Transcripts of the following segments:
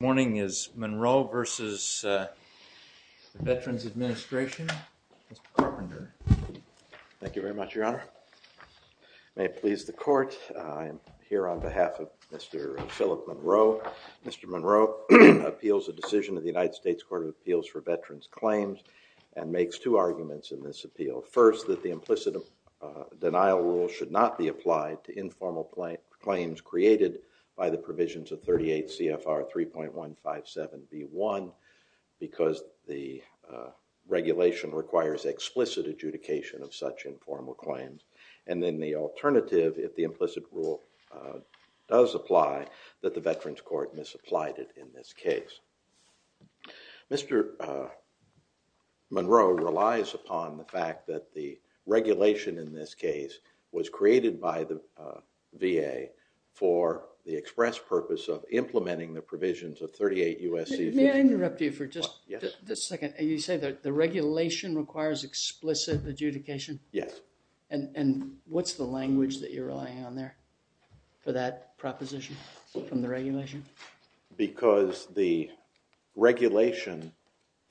Morning is Monroe v. Veterans Administration. Mr. Carpenter. Thank you very much, Your Honor. May it please the Court, I am here on behalf of Mr. Philip Monroe. Mr. Monroe appeals a decision of the United States Court of Appeals for Veterans Claims and makes two arguments in this appeal. First, that the implicit denial rule should not be applied to informal claims created by the provisions of 38 CFR 3.157 v. 1 because the regulation requires explicit adjudication of such informal claims. And then the alternative, if the implicit rule does apply, that the Veterans Court misapplied it in this case. Mr. Monroe relies upon the fact that the regulation in this case was created by the VA for the express purpose of implementing the provisions of 38 U.S. CFR... May I interrupt you for just a second? You say that the regulation requires explicit adjudication? Yes. And what's the language that you're relying on there for that proposition from the regulation? Because the regulation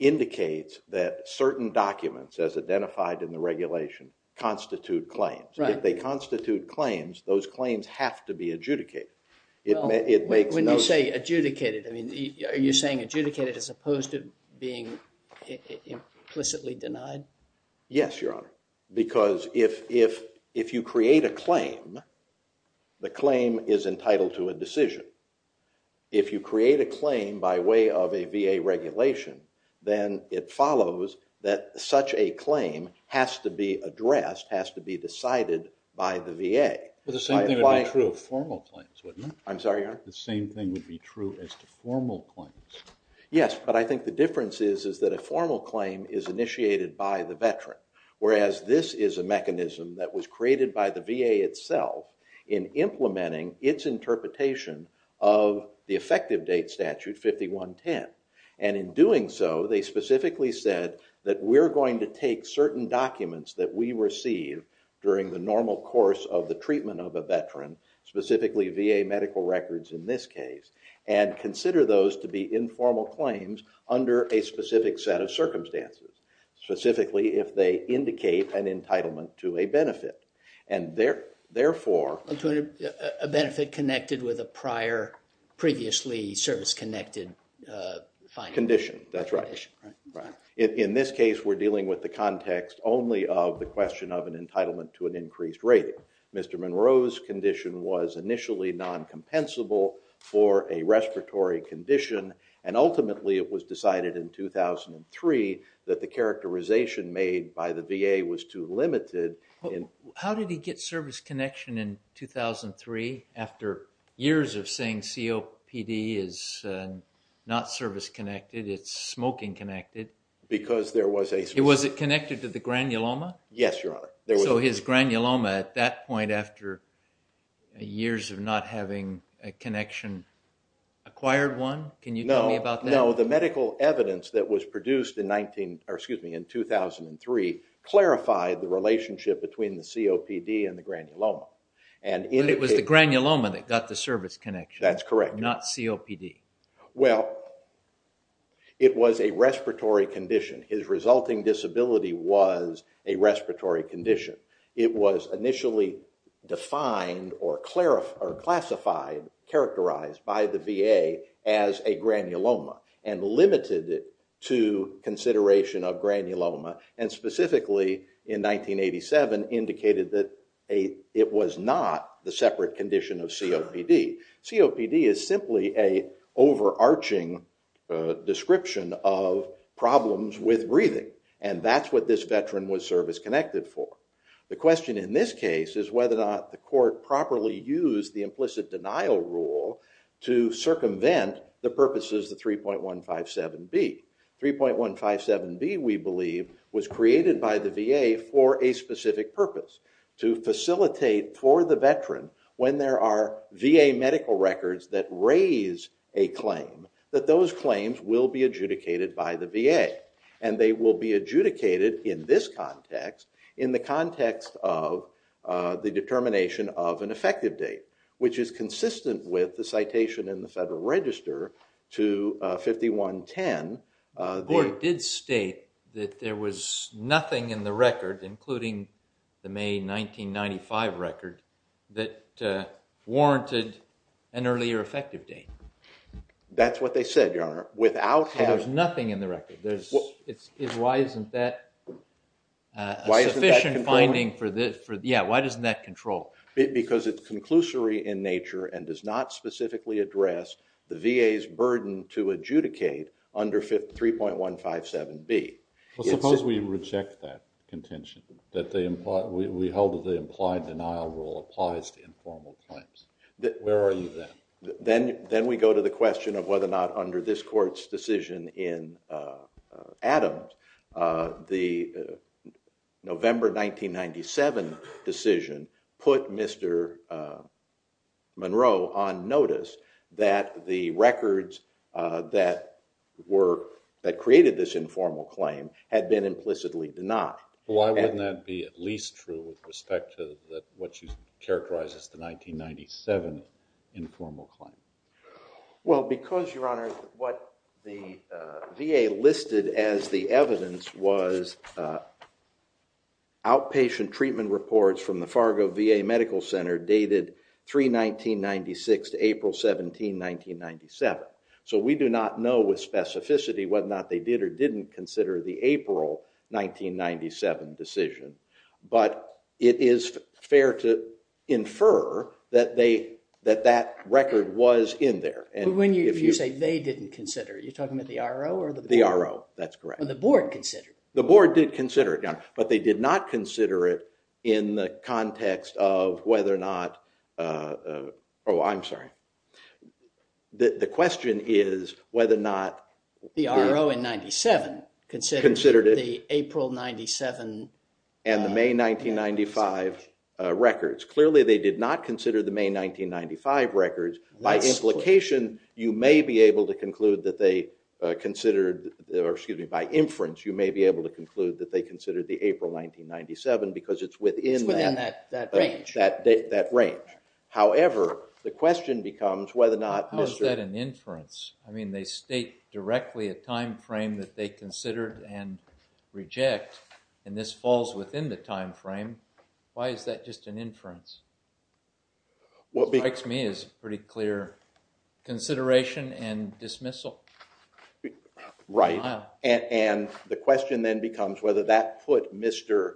indicates that certain documents as identified in the regulation constitute claims. If they constitute claims, those claims have to be adjudicated. When you say adjudicated, are you saying adjudicated as opposed to being implicitly denied? Yes, Your Honor. Because if you create a claim, the claim is entitled to a decision. If you create a claim by way of a VA regulation, then it follows that such a claim has to be addressed, has to be decided by the VA. Well, the same thing would be true of formal claims, wouldn't it? I'm sorry, Your Honor? The same thing would be true as to formal claims. Yes, but I think the difference is that a formal claim is initiated by the veteran, whereas this is a mechanism that was created by the VA itself in implementing its interpretation of the effective date statute, 5110. And in doing so, they specifically said that we're going to take certain documents that we receive during the and consider those to be informal claims under a specific set of circumstances, specifically if they indicate an entitlement to a benefit. And therefore, a benefit connected with a prior previously service-connected condition. That's right. In this case, we're dealing with the context only of the question of an entitlement to an increased rating. Mr. Monroe's condition was initially non-compensable for a respiratory condition, and ultimately it was decided in 2003 that the characterization made by the VA was too limited. How did he get service connection in 2003 after years of saying COPD is not service-connected, it's smoking-connected? Because there was a... Was it connected to the granuloma? Yes, Your Honor. So his granuloma at that point after years of not having a connection acquired one? Can you tell me about that? No, the medical evidence that was produced in 2003 clarified the relationship between the COPD and the granuloma. And it was the granuloma that got the service connection? That's correct. Not COPD? Well, it was a respiratory condition. His resulting disability was a respiratory condition. It was initially defined or classified, characterized by the VA as a granuloma, and limited to consideration of granuloma, and specifically in 1987 indicated that it was not the separate condition of COPD. COPD is simply an overarching description of problems with breathing, and that's what this veteran was service-connected for. The question in this case is whether or not the court properly used the implicit denial rule to circumvent the purposes of 3.157B. 3.157B, we believe, was created by the VA for a specific purpose, to facilitate for the veteran when there are VA medical records that raise a claim, that those claims will be adjudicated by the VA. And they will be adjudicated in this context, in the context of the determination of an effective date, which is consistent with the citation in the Federal Register to 5110. The court did state that there was nothing in the record, including the May 1995 record, that warranted an earlier effective date. That's what they said, Your Honor. Without having... There's nothing in the record. Why isn't that a sufficient finding for this? Yeah, why doesn't that control? Because it's conclusory in nature and does not specifically address the VA's burden to adjudicate under 3.157B. Well, suppose we reject that contention, that we hold that the implied denial rule applies to informal claims. Where are you then? Then we go to the question of whether or not under this court's decision in Adams, the November 1997 decision put Mr. Monroe on notice that the records that created this informal claim had been implicitly denied. Why wouldn't that be at least true with respect to what you characterize as the 1997 informal claim? Well, because, Your Honor, what the VA listed as the evidence was outpatient treatment reports from the Fargo VA Medical Center dated 3.1996 to April 17, 1997. So we do not know with specificity whether or not they did or didn't consider the April 1997 decision, but it is fair to infer that that record was in there. But when you say they didn't consider, you're talking about the RO or the board? The RO, that's correct. Well, the board considered it. The board did consider it, Your Honor, but they did not consider it in the context of whether or not... I'm sorry. The question is whether or not... The RO in 1997 considered the April 1997... And the May 1995 records. Clearly, they did not consider the May 1995 records. By implication, you may be able to conclude that they considered, or excuse me, by inference, you may be able to conclude that they considered the April 1997 because it's within that range. However, the question becomes whether or not... How is that an inference? I mean, they state directly a time frame that they considered and reject, and this falls within the time frame. Why is that just an inference? What strikes me is pretty clear consideration and dismissal. Right. And the question then becomes whether that put Mr.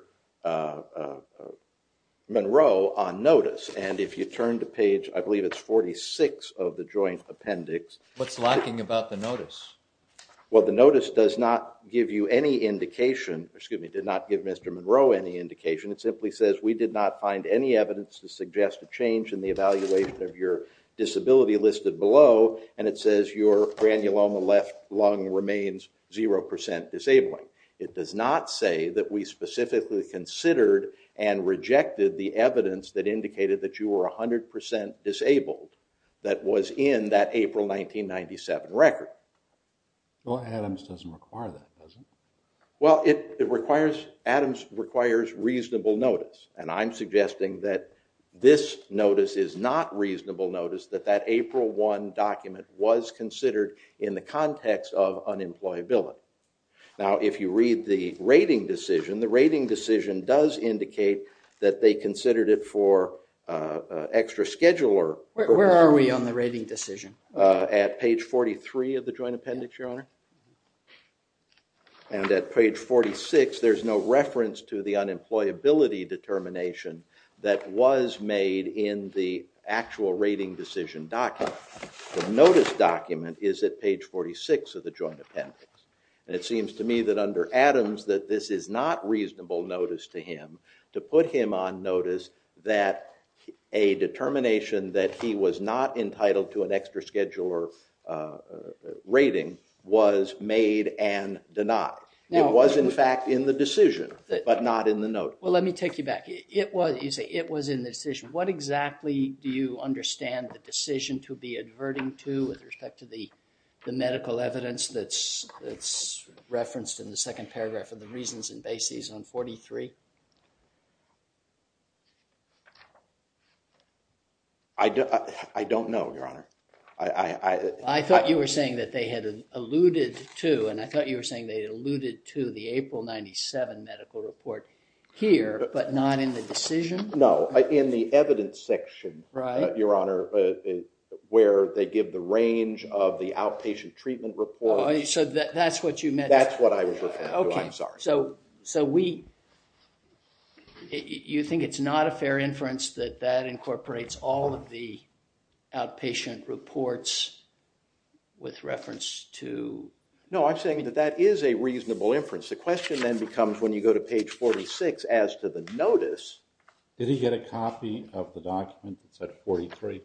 Monroe on notice. And if you turn to page, I believe it's 46 of the joint appendix... What's lacking about the notice? Well, the notice does not give you any indication... Excuse me, did not give Mr. Monroe any indication. It simply says, we did not find any evidence to suggest a change in the evaluation of your disability listed below. And it says your granuloma left lung remains 0% disabling. It does not say that we specifically considered and rejected the evidence that indicated that you were 100% disabled that was in that April 1997 record. Well, Adams doesn't require that, does he? Well, Adams requires reasonable notice. And I'm suggesting that this notice is not reasonable notice, that that April 1 document was considered in the context of unemployability. Now, if you read the rating decision, the rating decision does indicate that they considered it for extra scheduler. Where are we on the rating decision? At page 43 of the joint appendix, your honor. And at page 46, there's no reference to the unemployability determination that was made in the actual rating decision document. The notice document is at page 46 of the joint appendix. And it seems to me that under Adams, that this is not reasonable notice to him to put him on notice that a determination that he was not entitled to an extra scheduler rating was made and denied. It was, in fact, in the decision, but not in the notice. Well, let me take you back. It was, you say, it was in the decision. What exactly do you understand the decision to be adverting to with respect to the referenced in the second paragraph of the reasons and bases on 43? I don't know, your honor. I thought you were saying that they had alluded to, and I thought you were saying they alluded to the April 97 medical report here, but not in the decision? No, in the evidence section, your honor, where they give the range of the outpatient treatment report. So that's what you meant? That's what I was referring to, I'm sorry. So, so we, you think it's not a fair inference that that incorporates all of the outpatient reports with reference to? No, I'm saying that that is a reasonable inference. The question then becomes when you go to page 46 as to the notice. Did he get a copy of the document that said 43?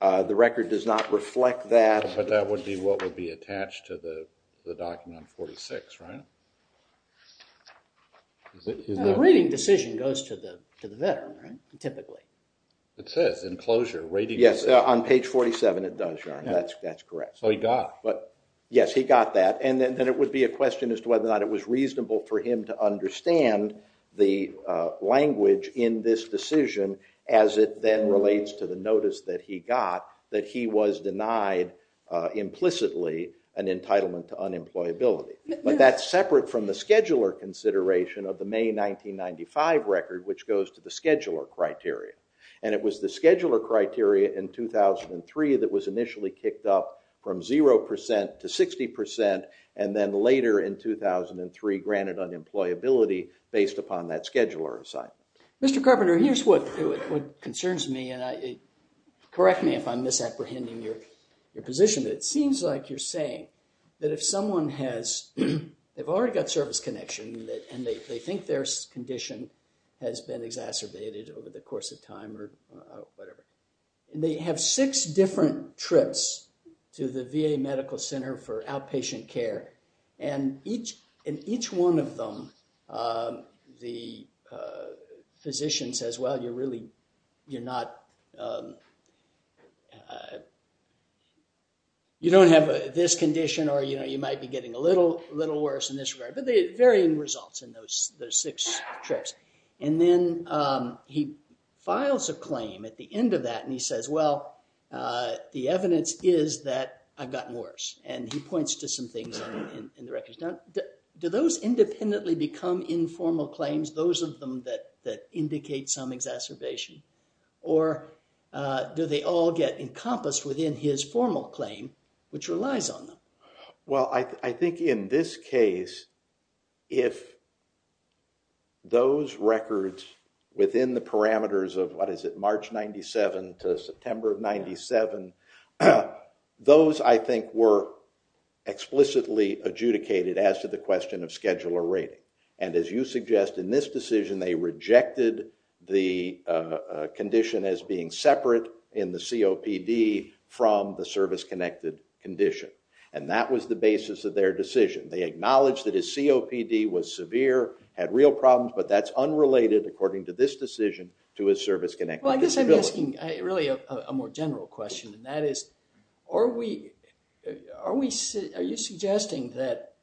The record does not reflect that. But that would be what would be attached to the document 46, right? The rating decision goes to the veteran, right? Typically. It says enclosure rating. Yes, on page 47 it does, your honor, that's correct. So he got it? Yes, he got that, and then it would be a question as to whether or not it was reasonable for him to understand the language in this decision as it then relates to the notice that he got that he was denied implicitly an entitlement to unemployability. But that's separate from the scheduler consideration of the May 1995 record, which goes to the scheduler criteria. And it was the scheduler criteria in 2003 that was initially kicked up from 0% to 60%, and then later in 2003 granted unemployability based upon that scheduler assignment. Mr. Carpenter, here's what concerns me, and correct me if I'm misapprehending your position, but it seems like you're saying that if someone has, they've already got service connection, and they think their condition has been exacerbated over the course of time or whatever, and they have six different trips to the VA Medical Center for outpatient care, and in each one of them, the physician says, well, you're really, you're not, you don't have this condition, or you might be getting a little worse in this regard, but there are varying results in those six trips. And then he files a claim at the end of that, and he says, well, the evidence is that I've gotten worse. And he points to some things in the records. Do those independently become informal claims, those of them that indicate some exacerbation, or do they all get encompassed within his formal claim, which relies on them? Well, I think in this case, if those records within the parameters of, what is it, March 97 to September of 97, those, I think, were explicitly adjudicated as to the question of scheduler rating, and as you suggest, in this decision, they rejected the condition as being separate in the COPD from the service-connected condition, and that was the basis of their decision. They acknowledged that his COPD was severe, had real problems, but that's unrelated, according to this decision, to his service-connected disability. Well, I guess I'm asking really a more general question, and that is, are you suggesting that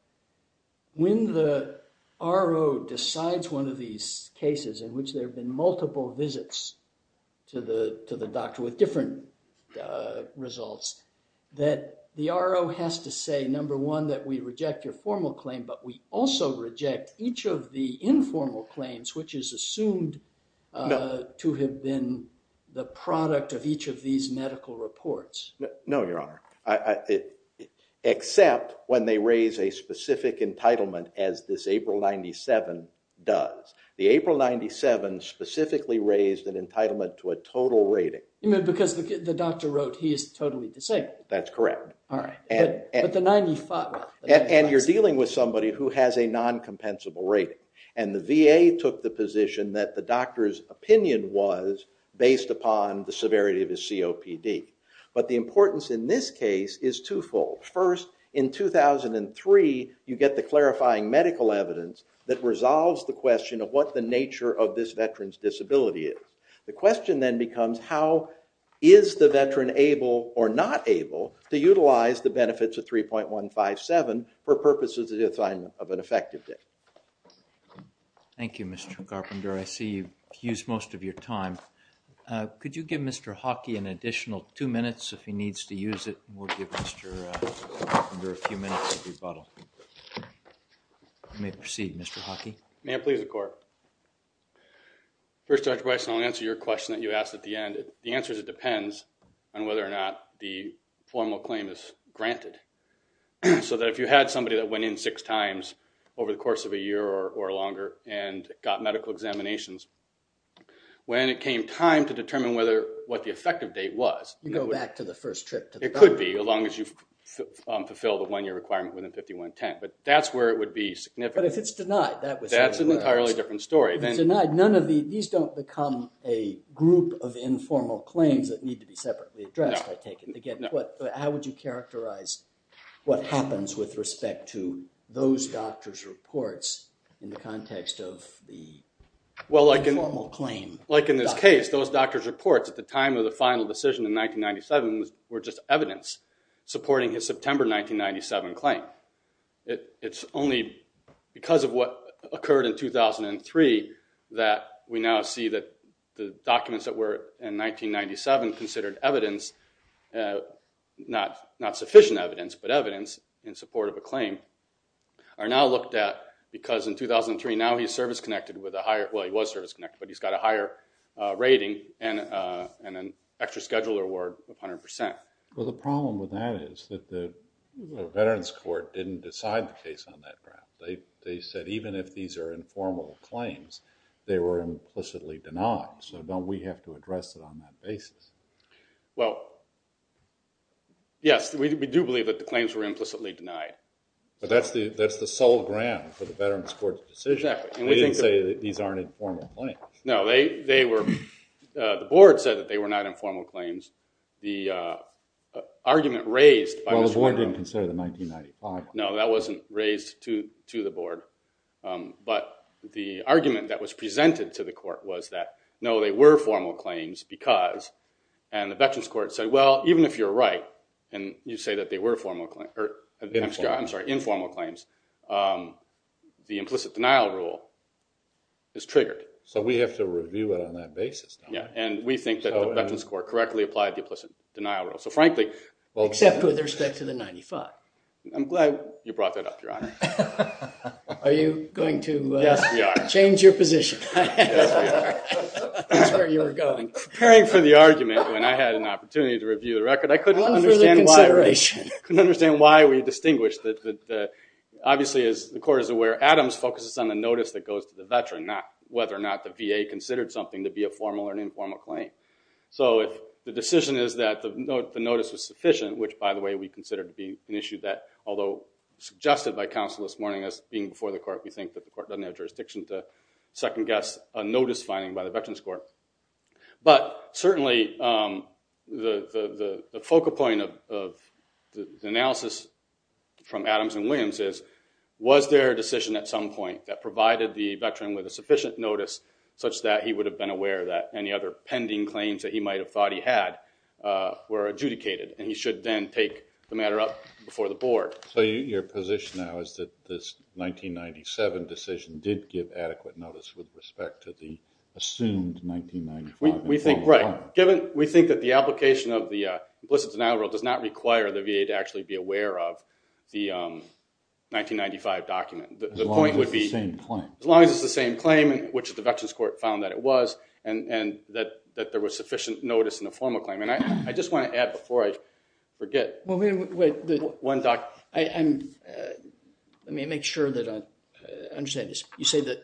when the RO decides one of these cases in which there have been multiple visits to the doctor with different results, that the RO has to say, number one, that we reject your formal claim, but we also reject each of the informal claims, which is assumed to have been the product of each of these medical reports? No, Your Honor, except when they raise a specific entitlement, as this April 97 does. The April 97 specifically raised an entitlement to a total rating. You mean because the doctor wrote he is totally disabled? That's correct. But the 95? And you're dealing with somebody who has a non-compensable rating, and the VA took the position that the doctor's opinion was based upon the severity of his COPD. But the importance in this case is twofold. First, in 2003, you get the clarifying medical evidence that resolves the question of what the nature of this veteran's disability is. The question then becomes, how is the veteran able or not able to utilize the benefits of 3.157 for purposes of the assignment of an effective date? Thank you, Mr. Carpenter. I see you've used most of your time. Could you give Mr. Hockey an additional two minutes if he needs to use it, and we'll give Mr. Carpenter a few minutes of rebuttal. You may proceed, Mr. Hockey. May I please, the Court? First, Dr. Bryson, I'll answer your question that you asked at the end. The answer is it depends on whether or not the formal claim is granted. So that if you had somebody that went in six times over the course of a year or longer and got medical examinations, when it came time to determine what the effective date was— You go back to the first trip to the doctor. It could be, as long as you've fulfilled the one-year requirement within 5110. But that's where it would be significant. But if it's denied, that would— It's an entirely different story. These don't become a group of informal claims that need to be separately addressed, I take it. How would you characterize what happens with respect to those doctors' reports in the context of the informal claim? Well, like in this case, those doctors' reports at the time of the final decision in 1997 were just evidence supporting his September 1997 claim. It's only because of what occurred in 2003 that we now see that the documents that were in 1997 considered evidence—not sufficient evidence, but evidence in support of a claim— are now looked at because in 2003, now he's service-connected with a higher— Well, he was service-connected, but he's got a higher rating and an extra scheduler award of 100%. Well, the problem with that is that the Veterans Court didn't decide the case on that ground. They said even if these are informal claims, they were implicitly denied, so don't we have to address it on that basis? Well, yes, we do believe that the claims were implicitly denied. But that's the sole ground for the Veterans Court's decision. Exactly. They didn't say that these aren't informal claims. No, they were—the board said that they were not informal claims. The argument raised by— Well, the board didn't consider the 1995 one. No, that wasn't raised to the board. But the argument that was presented to the court was that, no, they were formal claims because—and the Veterans Court said, well, even if you're right and you say that they were informal claims, the implicit denial rule is triggered. So we have to review it on that basis now. And we think that the Veterans Court correctly applied the implicit denial rule. So frankly— Except with respect to the 95. I'm glad you brought that up, Your Honor. Are you going to change your position? That's where you were going. Preparing for the argument when I had an opportunity to review the record, I couldn't understand why we distinguish that, obviously, as the court is aware, Adams focuses on the notice that goes to the veteran, whether or not the VA considered something to be a formal or an informal claim. So if the decision is that the notice was sufficient, which, by the way, we consider to be an issue that, although suggested by counsel this morning as being before the court, we think that the court doesn't have jurisdiction to second-guess a notice finding by the Veterans Court. But certainly, the focal point of the analysis from Adams and Williams is, was there a decision at some point that provided the veteran with a sufficient notice such that he would have been aware that any other pending claims that he might have thought he had were adjudicated? And he should then take the matter up before the board. So your position now is that this 1997 decision did give adequate notice with respect to the assumed 1995? We think— Right. Given— We think that the application of the implicit denial rule does not require the VA to actually be aware of the 1995 document. The point would be— As long as it's the same claim. As long as it's the same claim, which the Veterans Court found that it was, and that there was sufficient notice in the formal claim. And I just want to add before I forget— Well, wait. One doc— Let me make sure that I understand this. You say that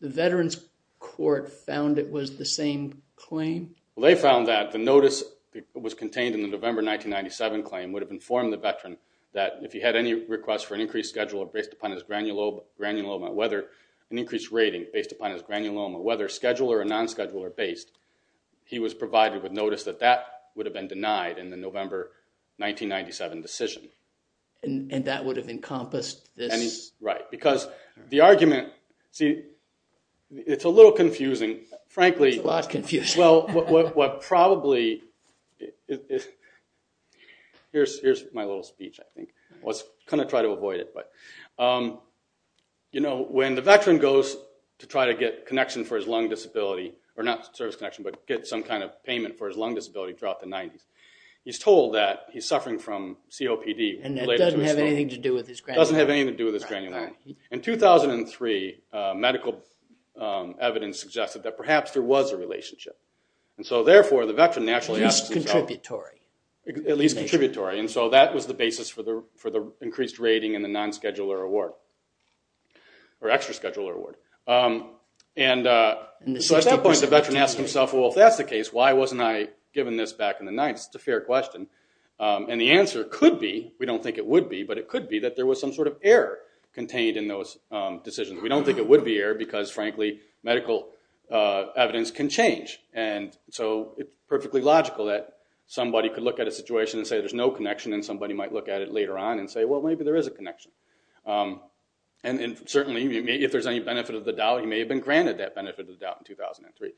the Veterans Court found it was the same claim? Well, they found that the notice that was contained in the November 1997 claim would have informed the veteran that if he had any requests for an increased schedule based upon his granuloma, whether an increased rating based upon his granuloma, whether scheduled or non-scheduled or based, he was provided with notice that that would have been denied in the November 1997 decision. And that would have encompassed this— Right. Because the argument— See, it's a little confusing. Frankly— It's a lot confusing. Well, what probably— Here's my little speech, I think. Let's kind of try to avoid it. You know, when the veteran goes to try to get connection for his lung disability, or not service connection, but get some kind of payment for his lung disability throughout the 90s, he's told that he's suffering from COPD— And that doesn't have anything to do with his granuloma. Doesn't have anything to do with his granuloma. In 2003, medical evidence suggested that perhaps there was a relationship. And so, therefore, the veteran actually— At least contributory. At least contributory. And so, that was the basis for the increased rating and the non-scheduler award, or extra-scheduler award. And so, at that point, the veteran asked himself, well, if that's the case, why wasn't I given this back in the 90s? It's a fair question. And the answer could be, we don't think it would be, but it could be that there was some sort of error contained in those decisions. We don't think it would be error because, frankly, medical evidence can change. And so, it's perfectly logical that somebody could look at a situation and say there's no connection, and somebody might look at it later on and say, well, maybe there is a connection. And certainly, if there's any benefit of the doubt, he may have been granted that benefit of the doubt in 2003.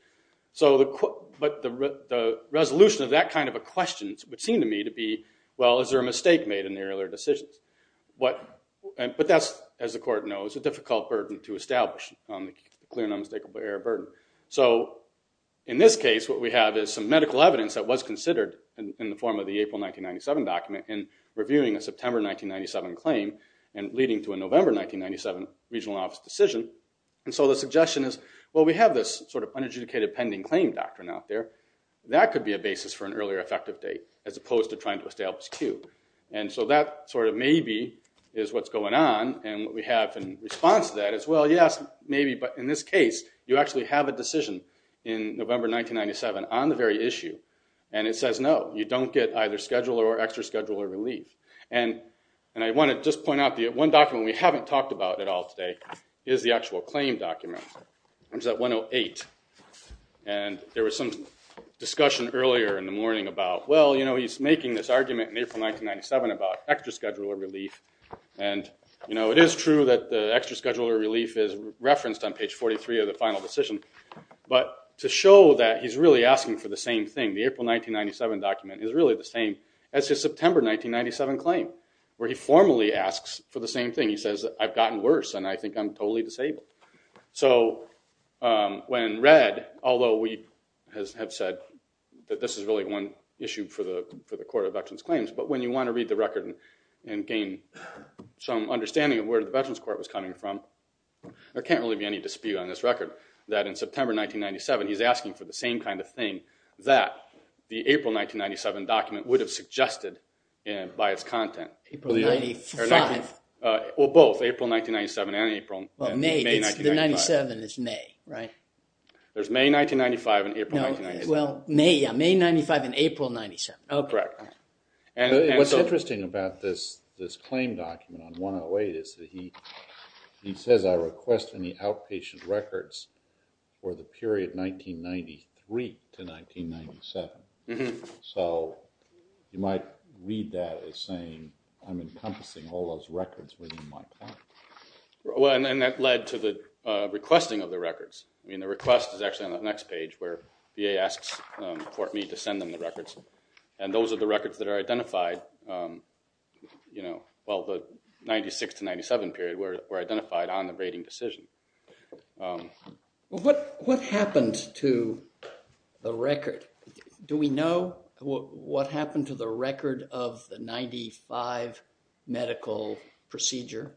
But the resolution of that kind of a question would seem to me to be, well, is there a mistake made in the earlier decisions? But that's, as the court knows, a difficult burden to establish, the clear and unmistakable error burden. So, in this case, what we have is some medical evidence that was considered in the form of the April 1997 document in reviewing a September 1997 claim and leading to a November 1997 regional office decision. And so, the suggestion is, well, we have this sort of unadjudicated pending claim doctrine out there. That could be a basis for an earlier effective date as opposed to trying to establish Q. And so, that sort of maybe is what's going on. And what we have in response to that is, well, yes, maybe. But in this case, you actually have a decision in November 1997 on the very issue. And it says, no, you don't get either scheduler or extra scheduler relief. And I want to just point out the one document we haven't talked about at all today is the actual claim document, which is at 108. And there was some discussion earlier in the morning about, well, you know, he's making this argument in April 1997 about extra scheduler relief. And, you know, it is true that the extra scheduler relief is referenced on page 43 of the final decision. But to show that he's really asking for the same thing, the April 1997 document is really the same as his September 1997 claim, where he formally asks for the same thing. He says, I've gotten worse, and I think I'm totally disabled. So when read, although we have said that this is really one issue for the Court of Veterans Claims, but when you want to read the record and gain some understanding of where the Veterans Court was coming from, there can't really be any dispute on this record that in September 1997, he's asking for the same kind of thing that the April 1997 document would have suggested by its content. April 95? Well, both, April 1997 and April. Well, May, the 97 is May, right? There's May 1995 and April 1997. Well, May, yeah, May 95 and April 97. Oh, correct. What's interesting about this claim document on 108 is that he says, I request any outpatient records for the period 1993 to 1997. So you might read that as saying, I'm encompassing all those records within my time. Well, and that led to the requesting of the records. I mean, the request is actually on the next page, where VA asks Fort Meade to send them the records. And those are the records that are identified, you know, well, the 96 to 97 period were identified on the rating decision. Well, what happened to the record? Do we know what happened to the record of the 95 medical procedure?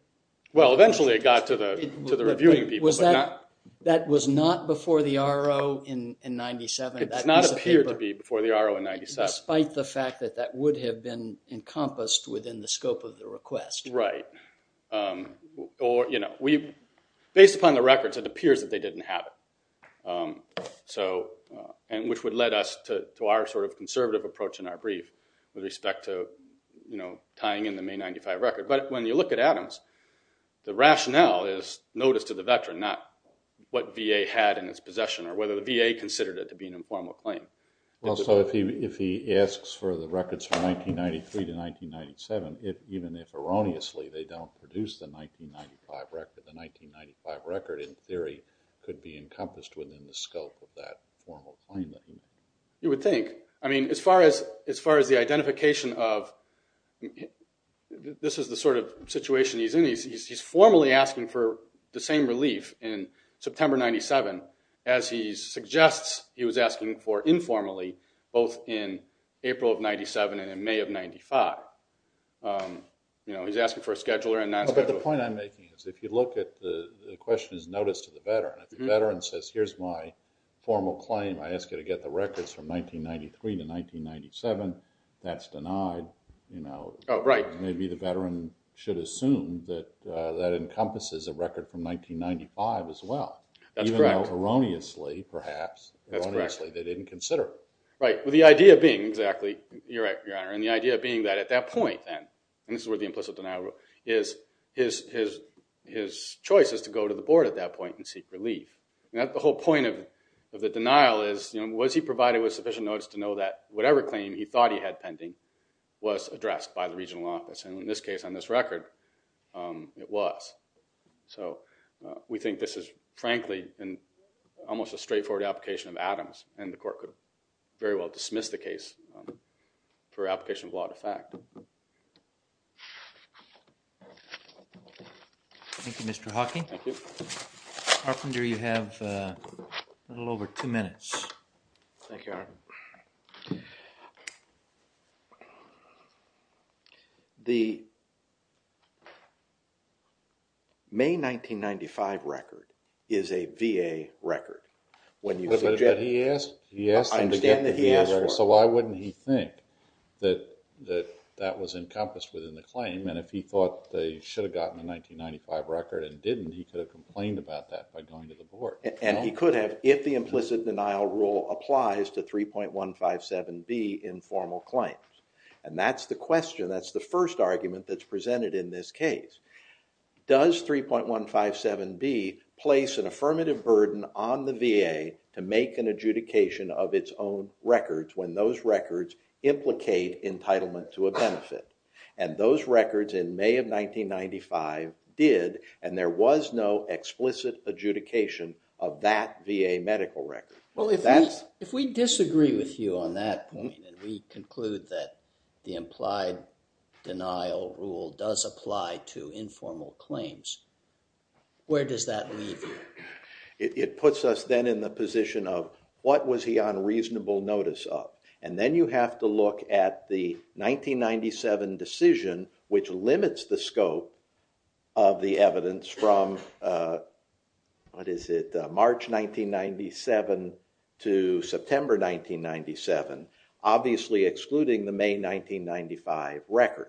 Well, eventually it got to the reviewing people. Was that, that was not before the R.O. in 97? It does not appear to be before the R.O. in 97. Despite the fact that that would have been encompassed within the scope of the request. Right. Or, you know, based upon the records, it appears that they didn't have it. So, and which would lead us to our sort of conservative approach in our brief with respect to, you know, tying in the May 95 record. But when you look at Adams, the rationale is notice to the veteran, not what VA had in its possession or whether the VA considered it to be an informal claim. Well, so if he asks for the records from 1993 to 1997, even if erroneously, they don't produce the 1995 record, the 1995 record in theory could be encompassed within the scope of that formal claim. You would think. I mean, as far as the identification of, this is the sort of situation he's in. He's formally asking for the same relief in September 97. As he suggests, he was asking for informally, both in April of 97 and in May of 95. You know, he's asking for a scheduler and non-scheduler. But the point I'm making is, if you look at the question is notice to the veteran, if the veteran says, here's my formal claim, I ask you to get the records from 1993 to 1997, that's denied, you know. Oh, right. Maybe the veteran should assume that that encompasses a record from 1995 as well. That's correct. Even though erroneously, perhaps, erroneously, they didn't consider. Right. Well, the idea being exactly, you're right, Your Honor. And the idea being that at that point then, and this is where the implicit denial rule is, his choice is to go to the board at that point and seek relief. The whole point of the denial is, you know, was he provided with sufficient notice to know that whatever claim he thought he had pending was addressed by the regional office. And in this case, on this record, it was. So we think this is, frankly, an almost a straightforward application of Adams and the court could very well dismiss the case for application of law to fact. Thank you, Mr. Hawking. Thank you. Arpender, you have a little over two minutes. Thank you, Your Honor. So, the May 1995 record is a VA record. When you said- But he asked, he asked them to get the VA record. So why wouldn't he think that that was encompassed within the claim? And if he thought they should have gotten a 1995 record and didn't, he could have complained about that by going to the board. And he could have, if the implicit denial rule applies to 3.157B informal claims. And that's the question, that's the first argument that's presented in this case. Does 3.157B place an affirmative burden on the VA to make an adjudication of its own records when those records implicate entitlement to a benefit? And those records in May of 1995 did, and there was no explicit adjudication of that VA medical record. Well, if that's- If we disagree with you on that point and we conclude that the implied denial rule does apply to informal claims, where does that leave you? It puts us then in the position of what was he on reasonable notice of? And then you have to look at the 1997 decision which limits the scope of the evidence from, what is it, March 1997 to September 1997, obviously excluding the May 1995 record.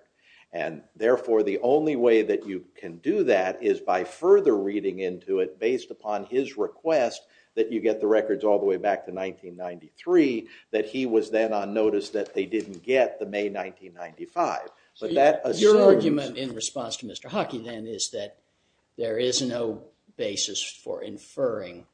And therefore, the only way that you can do that is by further reading into it based upon his request that you get the records all the way back to 1993, that he was then on notice that they didn't get the May 1995. So your argument in response to Mr. Hockey then is that there is no basis for inferring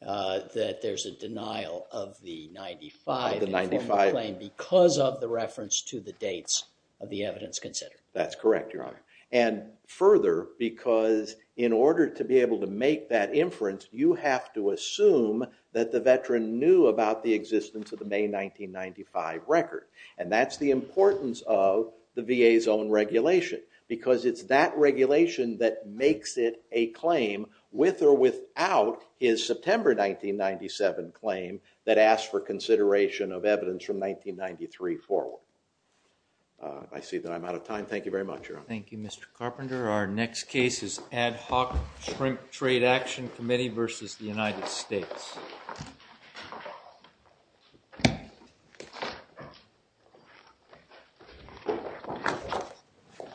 that there's a denial of the 95- Of the 95. Because of the reference to the dates of the evidence considered. That's correct, Your Honor. And further, because in order to be able to make that inference, you have to assume that the veteran knew about the existence of the May 1995 record. And that's the importance of the VA's own regulation because it's that regulation that makes it a claim with or without his September 1997 claim that asks for consideration of evidence from 1993 forward. I see that I'm out of time. Thank you very much, Your Honor. Thank you, Mr. Carpenter. Our next case is Ad Hoc Shrink Trade Action Committee versus the United States.